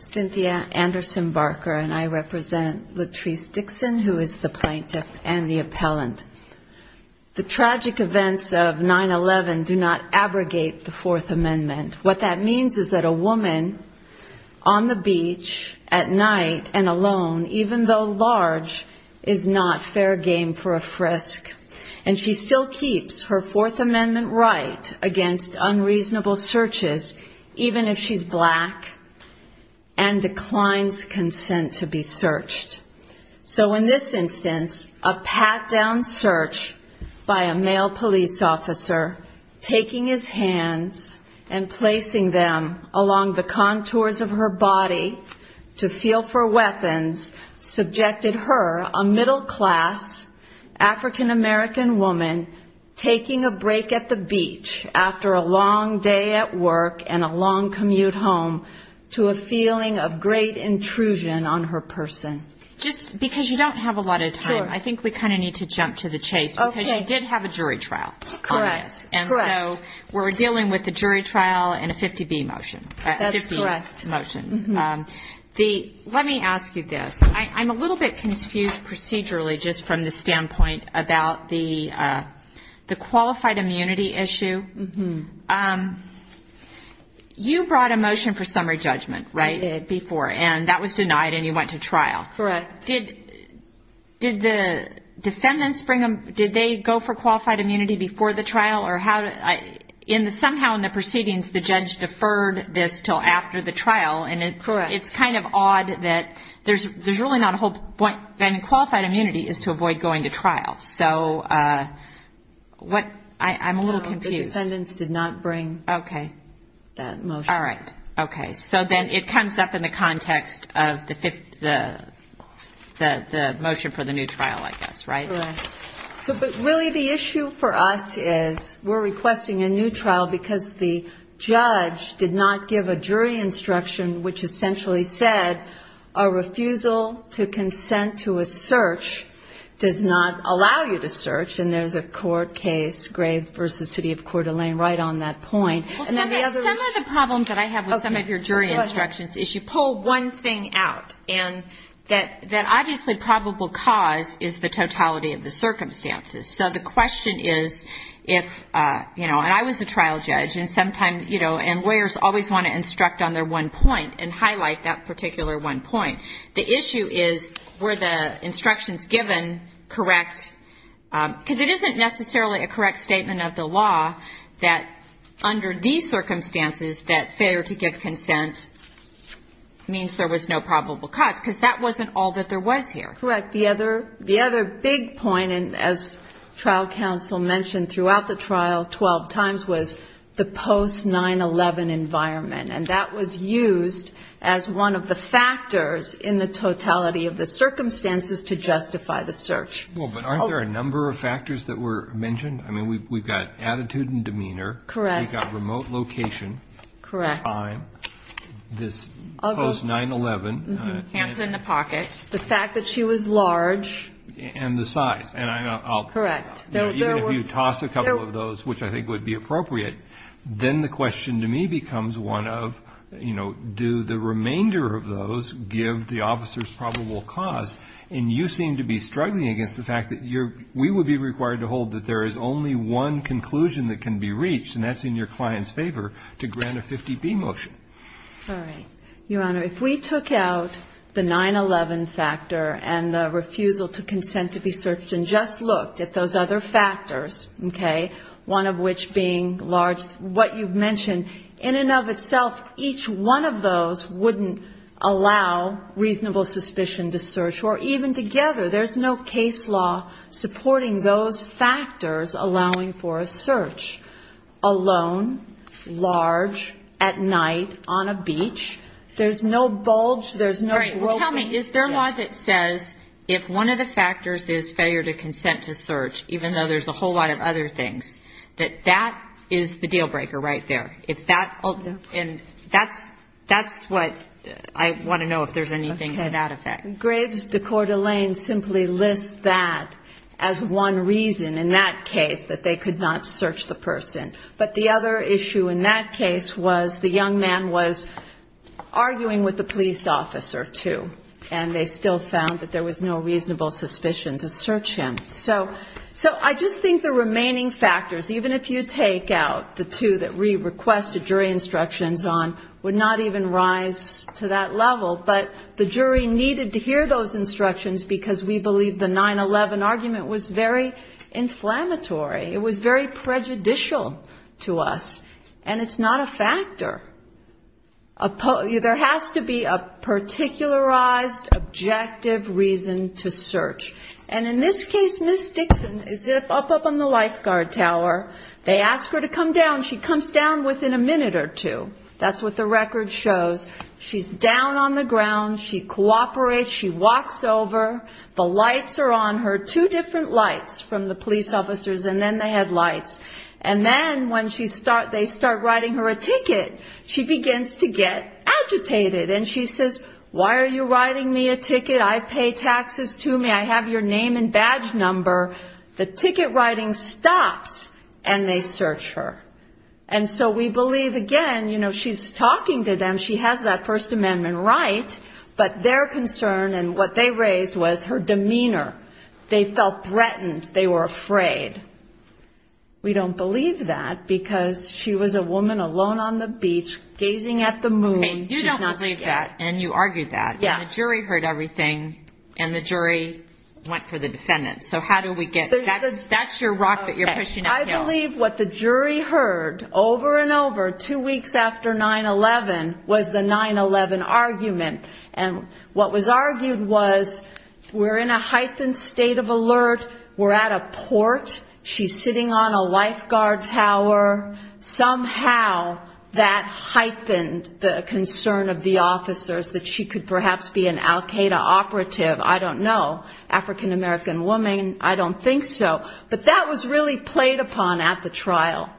Cynthia Anderson Barker and I represent Latrice Dixon, who is the plaintiff and the appellant. The tragic events of 9-11 do not abrogate the Fourth Amendment. What that means is that a woman on the beach at night and alone, even though large, is not fair game for a frisk. And she still keeps her Fourth Amendment right against unreasonable searches, even if she is black and declines consent to be searched. So in this instance, a pat-down search by a male police officer, taking his hands and placing them along the contours of her body to feel for weapons, subjected her, a middle-class African-American woman, taking a break at the beach after a long day at work and a long commute home, to a feeling of great intrusion on her person. Just because you don't have a lot of time, I think we kind of need to jump to the chase because you did have a jury trial on this, and so we're dealing with a jury trial and a 50-B motion, a 50-B motion. Let me ask you this. I'm a little bit confused procedurally just from the standpoint about the qualified immunity issue. You brought a motion for summary judgment, right, before, and that was denied and you went to trial. Correct. Did the defendants bring them, did they go for qualified immunity before the trial or how did, somehow in the proceedings, the judge deferred this until after the trial, and it's kind of odd that there's really not a whole point, and qualified immunity is to avoid going to trial. So I'm a little confused. No, the defendants did not bring that motion. Okay. All right. Okay. So then it comes up in the context of the motion for the new trial, I guess, right? Correct. But really the issue for us is we're requesting a new trial because the judge did not give a jury instruction which essentially said a refusal to consent to a search does not allow you to search, and there's a court case, Grave v. City of Coeur d'Alene, right on that point. Well, some of the problems that I have with some of your jury instructions is you pull one thing out, and that obviously probable cause is the totality of the circumstances. So the question is if, you know, and I was a trial judge, and sometimes, you know, and lawyers always want to instruct on their one point and highlight that particular one point. The issue is were the instructions given correct? Because it isn't necessarily a correct statement of the law that under these circumstances that failure to give consent means there was no probable cause, because that wasn't all that there was here. Correct. The other big point, and as trial counsel mentioned throughout the trial 12 times, was the post-9-11 environment, and that was used as one of the factors in the totality of the circumstances to justify the search. Well, but aren't there a number of factors that were mentioned? I mean, we've got attitude and demeanor. Correct. We've got remote location. Correct. Time. This post-9-11. Hands in the pocket. The fact that she was large. And the size. Correct. Even if you toss a couple of those, which I think would be appropriate, then the question to me becomes one of, you know, do the remainder of those give the officer's probable cause? And you seem to be struggling against the fact that we would be required to hold that there is only one conclusion that can be reached, and that's in your client's favor, to grant a 50-B motion. All right. Your Honor, if we took out the 9-11 factor and the refusal to consent to be searched and just looked at those other factors, okay, one of which being large, what you've mentioned, in and of itself, each one of those wouldn't allow reasonable suspicion to search. Or even together, there's no case law supporting those factors allowing for a search alone, large, at night, on a beach. There's no bulge. There's no broken. Well, tell me, is there a law that says if one of the factors is failure to consent to search, even though there's a whole lot of other things, that that is the deal breaker right there? No. And that's what I want to know, if there's anything to that effect. Okay. Graves de Cordelein simply lists that as one reason, in that case, that they could not search the person. But the other issue in that case was the young man was arguing with the police officer, too. And they still found that there was no reasonable suspicion to search him. So I just think the remaining factors, even if you take out the two that we requested jury instructions on, would not even rise to that level. But the jury needed to hear those instructions because we believe the 9-11 argument was very inflammatory. It was very prejudicial to us. And it's not a factor. There has to be a particularized, objective reason to search. And in this case, Ms. Dixon is up on the lifeguard tower. They ask her to come down. She comes down within a minute or two. That's what the record shows. She's down on the ground. She cooperates. She walks over. The lights are on her, two different lights from the police officers, and then the headlights. And then when they start writing her a ticket, she begins to get agitated. And she says, why are you writing me a ticket? I pay taxes, too. May I have your name and badge number? The ticket writing stops, and they search her. And so we believe, again, you know, she's talking to them. She has that First Amendment right. But their concern and what they raised was her demeanor. They felt threatened. They were afraid. We don't believe that, because she was a woman alone on the beach, gazing at the moon. You don't believe that, and you argued that. Yeah. And the jury heard everything, and the jury went for the defendant. So how do we get... That's your rock that you're pushing uphill. I believe what the jury heard over and over, two weeks after 9-11, was the 9-11 argument. And what was argued was, we're in a heightened state of alert. We're at a port. She's sitting on a lifeguard tower. Somehow, that heightened the concern of the officers, that she could perhaps be an Al-Qaeda operative. I don't know. African-American woman. I don't think so. But that was really played upon at the trial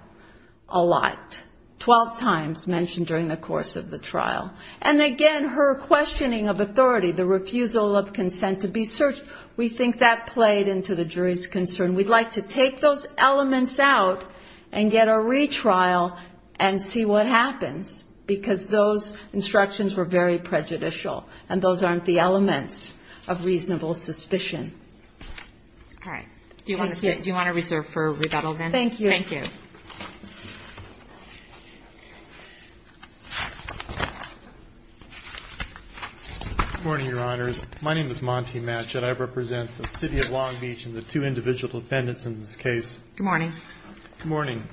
a lot, 12 times mentioned during the course of the trial. And again, her questioning of authority, the refusal of consent to be searched. We think that played into the jury's concern. We'd like to take those elements out, and get a retrial, and see what happens. Because those instructions were very prejudicial, and those aren't the elements of reasonable suspicion. All right. Thank you. Do you want to reserve for rebuttal, then? Thank you. Thank you. Good morning, Your Honors. My name is Monty Matchett. I represent the city of Long Beach, and the two individual defendants in this case. Good morning. Good morning.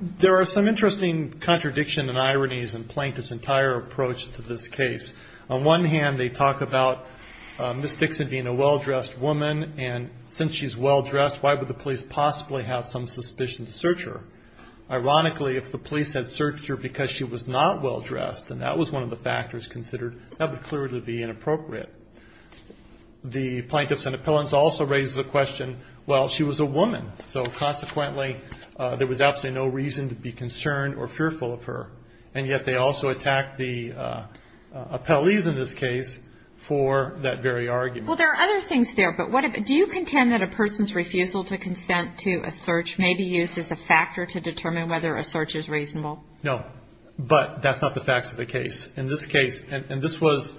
There are some interesting contradiction, and ironies, and plaintiffs' entire approach to this case. On one hand, they talk about Ms. Dixon being a well-dressed woman. And since she's well-dressed, why would the police possibly have some suspicion to search her? Ironically, if the police had searched her because she was not well-dressed, and that was one of the factors considered, that would clearly be inappropriate. The plaintiffs and appellants also raised the question, well, she was a woman. So consequently, there was absolutely no reason to be concerned or fearful of her. And yet, they also attacked the appellees in this case for that very argument. Well, there are other things there, but do you contend that a person's refusal to consent to a search may be used as a factor to determine whether a search is reasonable? No. But that's not the facts of the case. In this case, and this was,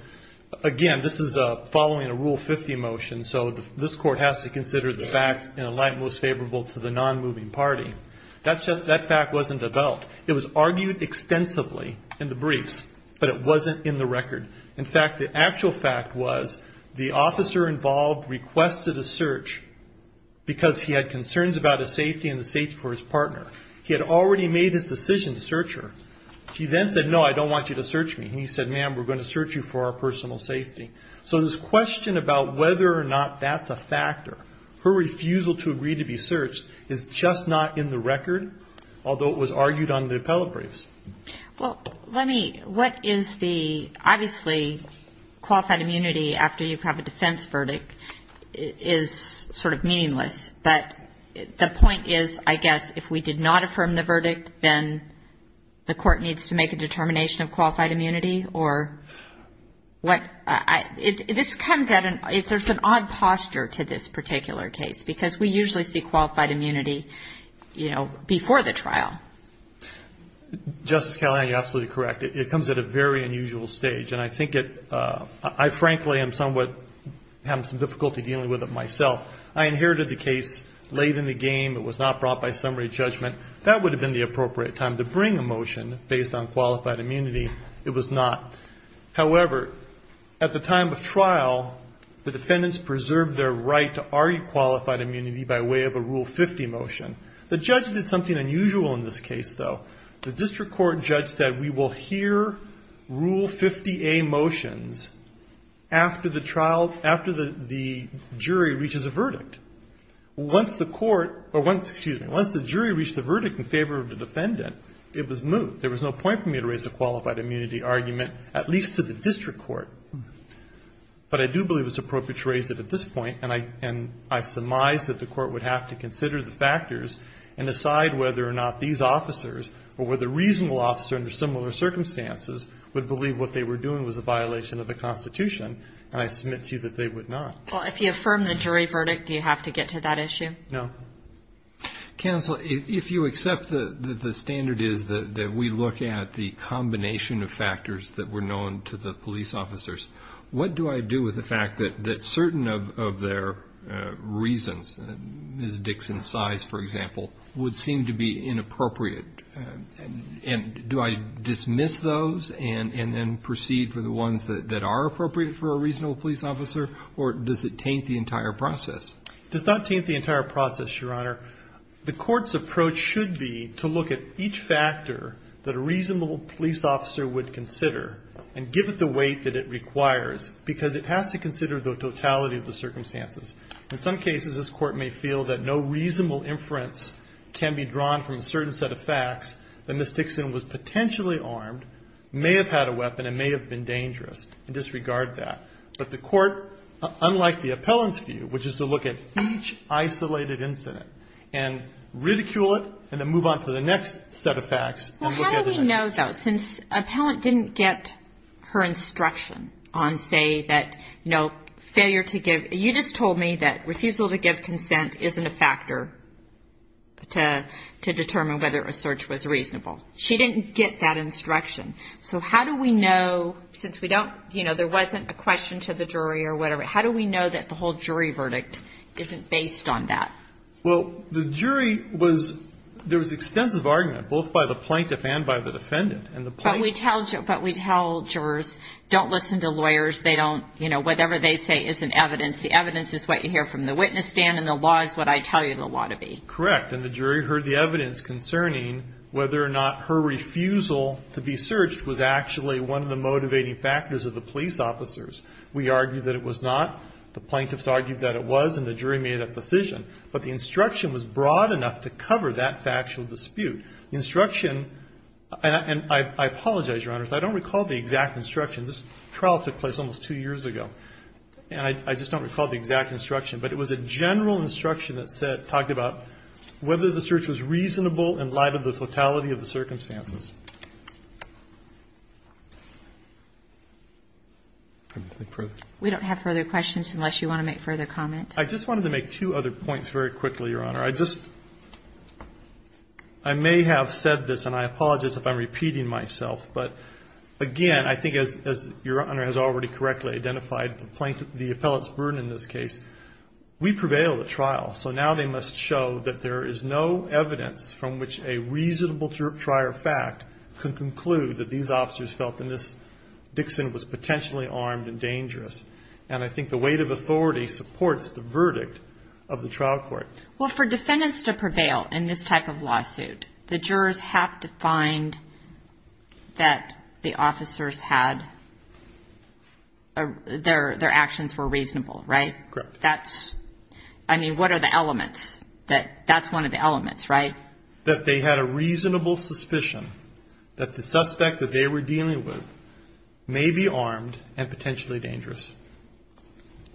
again, this is following a Rule 50 motion, so this Court has to consider the facts in a light most favorable to the non-moving party. That fact wasn't developed. It was argued extensively in the briefs, but it wasn't in the record. In fact, the actual fact was the officer involved requested a search because he had concerns about his safety and the safety of his partner. He had already made his decision to search her. She then said, no, I don't want you to search me. He said, ma'am, we're going to search you for our personal safety. So this question about whether or not that's a factor, her refusal to agree to be searched, is just not in the record, although it was argued on the appellate briefs. Well, let me, what is the, obviously, qualified immunity after you have a defense verdict is sort of meaningless, but the point is, I guess, if we did not affirm the verdict, then the Court needs to make a determination of qualified immunity, or what, this comes at an, if there's an odd posture to this particular case, because we usually see qualified immunity, you know, before the trial. Justice Callahan, you're absolutely correct. It comes at a very unusual stage, and I think it, I frankly am somewhat having some difficulty dealing with it myself. I inherited the case late in the game. It was not brought by summary judgment. That would have been the appropriate time to bring a motion based on qualified immunity. It was not. However, at the time of trial, the defendants preserved their right to argue qualified immunity by way of a Rule 50 motion. The judge did something unusual in this case, though. The district court judge said, we will hear Rule 50A motions after the trial, after the jury reaches a verdict. Once the court, or once, excuse me, once the jury reached a verdict in favor of the defendant, it was moved. There was no point for me to raise a qualified immunity argument, at least to the district court, but I do believe it's appropriate to raise it at this point, and I, and I surmise that the court would have to consider the factors and decide whether or not these officers, or whether reasonable officer under similar circumstances, would believe what they were doing was a violation of the Constitution, and I submit to you that they would not. Well, if you affirm the jury verdict, do you have to get to that issue? No. Counsel, if you accept that the standard is that we look at the combination of factors that were known to the police officers, what do I do with the fact that certain of their reasons, Ms. Dixon's size, for example, would seem to be inappropriate, and do I dismiss those and then proceed for the ones that are appropriate for a reasonable police officer, or does it taint the entire process? Does not taint the entire process, Your Honor. The court's approach should be to look at each factor that a reasonable police officer would consider and give it the weight that it requires, because it has to consider the totality of the circumstances. In some cases, this court may feel that no reasonable inference can be drawn from a certain set of facts that Ms. Dixon was potentially armed, may have had a weapon, and may have been dangerous, and disregard that. But the court, unlike the appellant's view, which is to look at each isolated incident and ridicule it, and then move on to the next set of facts and look at the next. I love that. Since appellant didn't get her instruction on, say, that, you know, failure to give, you just told me that refusal to give consent isn't a factor to determine whether a search was reasonable. She didn't get that instruction. So how do we know, since we don't, you know, there wasn't a question to the jury or whatever, how do we know that the whole jury verdict isn't based on that? Well, the jury was, there was extensive argument, both by the plaintiff and by the defendant. But we tell jurors, don't listen to lawyers, they don't, you know, whatever they say isn't evidence. The evidence is what you hear from the witness stand, and the law is what I tell you the law to be. Correct. And the jury heard the evidence concerning whether or not her refusal to be searched was actually one of the motivating factors of the police officers. We argued that it was a decision, but the instruction was broad enough to cover that factual dispute. The instruction, and I apologize, Your Honors, I don't recall the exact instruction. This trial took place almost two years ago, and I just don't recall the exact instruction. But it was a general instruction that said, talked about whether the search was reasonable in light of the totality of the circumstances. We don't have further questions unless you want to make further comments. I just wanted to make two other points very quickly, Your Honor. I just, I may have said this, and I apologize if I'm repeating myself, but again, I think as Your Honor has already correctly identified the plaintiff, the appellate's burden in this case, we prevailed at trial, so now they must show that there is no evidence from which a reasonable trier of fact could conclude that these officers felt that Ms. Dixon was potentially armed and dangerous. And I think the weight of authority supports the verdict of the trial court. Well, for defendants to prevail in this type of lawsuit, the jurors have to find that the officers had, their actions were reasonable, right? Correct. That's, I mean, what are the elements that, that's one of the elements, right? That they had a reasonable suspicion that the suspect that they were dealing with may be armed and potentially dangerous.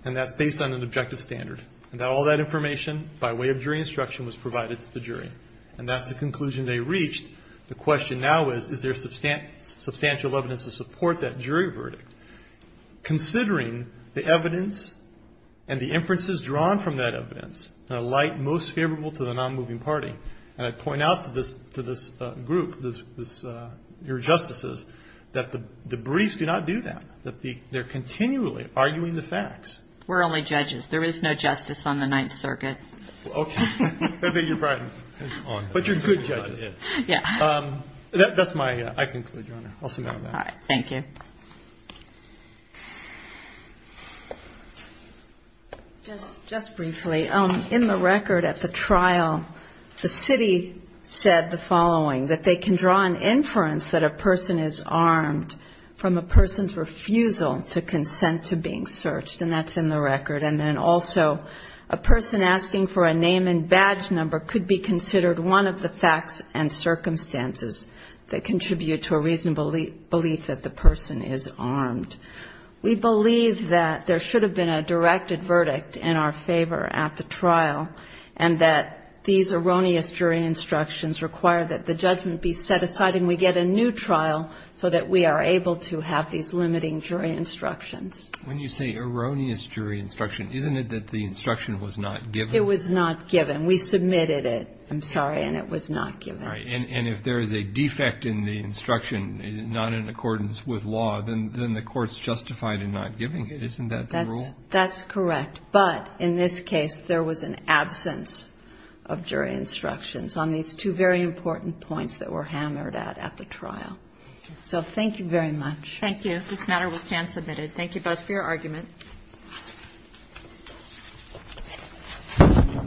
And that's based on an objective standard. And all that information, by way of jury instruction, was provided to the jury. And that's the conclusion they reached. The question now is, is there substantial evidence to support that jury verdict? Considering the evidence and the inferences drawn from that evidence in a light most favorable to the non-moving party, and I point out to this group, your justices, that the briefs do not do that. That they're continually arguing the facts. We're only judges. There is no justice on the Ninth Circuit. Okay. I think you're right. But you're good judges. Yeah. That's my, I conclude, Your Honor. I'll submit on that. All right. Thank you. Just briefly, in the record at the trial, the city said the following. That they can draw an inference that a person is armed from a person's refusal to consent to being searched. And that's in the record. And then also, a person asking for a name and badge number could be considered one of the facts and circumstances that contribute to a reasonable belief that the person is armed. We believe that there should have been a directed verdict in our favor at the trial. And that these erroneous jury instructions require that the judgment be set aside and we get a new trial so that we are able to have these limiting jury instructions. When you say erroneous jury instruction, isn't it that the instruction was not given? It was not given. We submitted it. I'm sorry. And it was not given. All right. And if there is a defect in the instruction, not in accordance with law, then the court's justified in not giving it. Isn't that the rule? Yes. That's correct. But, in this case, there was an absence of jury instructions on these two very important points that were hammered out at the trial. So, thank you very much. Thank you. This matter will stand submitted. Thank you both for your argument. The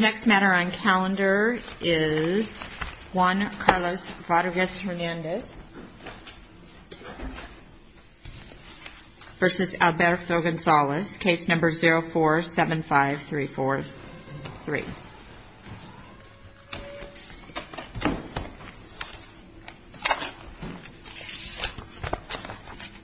next matter on calendar is Juan Carlos Rodriguez-Hernandez versus a defendant named Alberto Gonzalez, case number 0475343.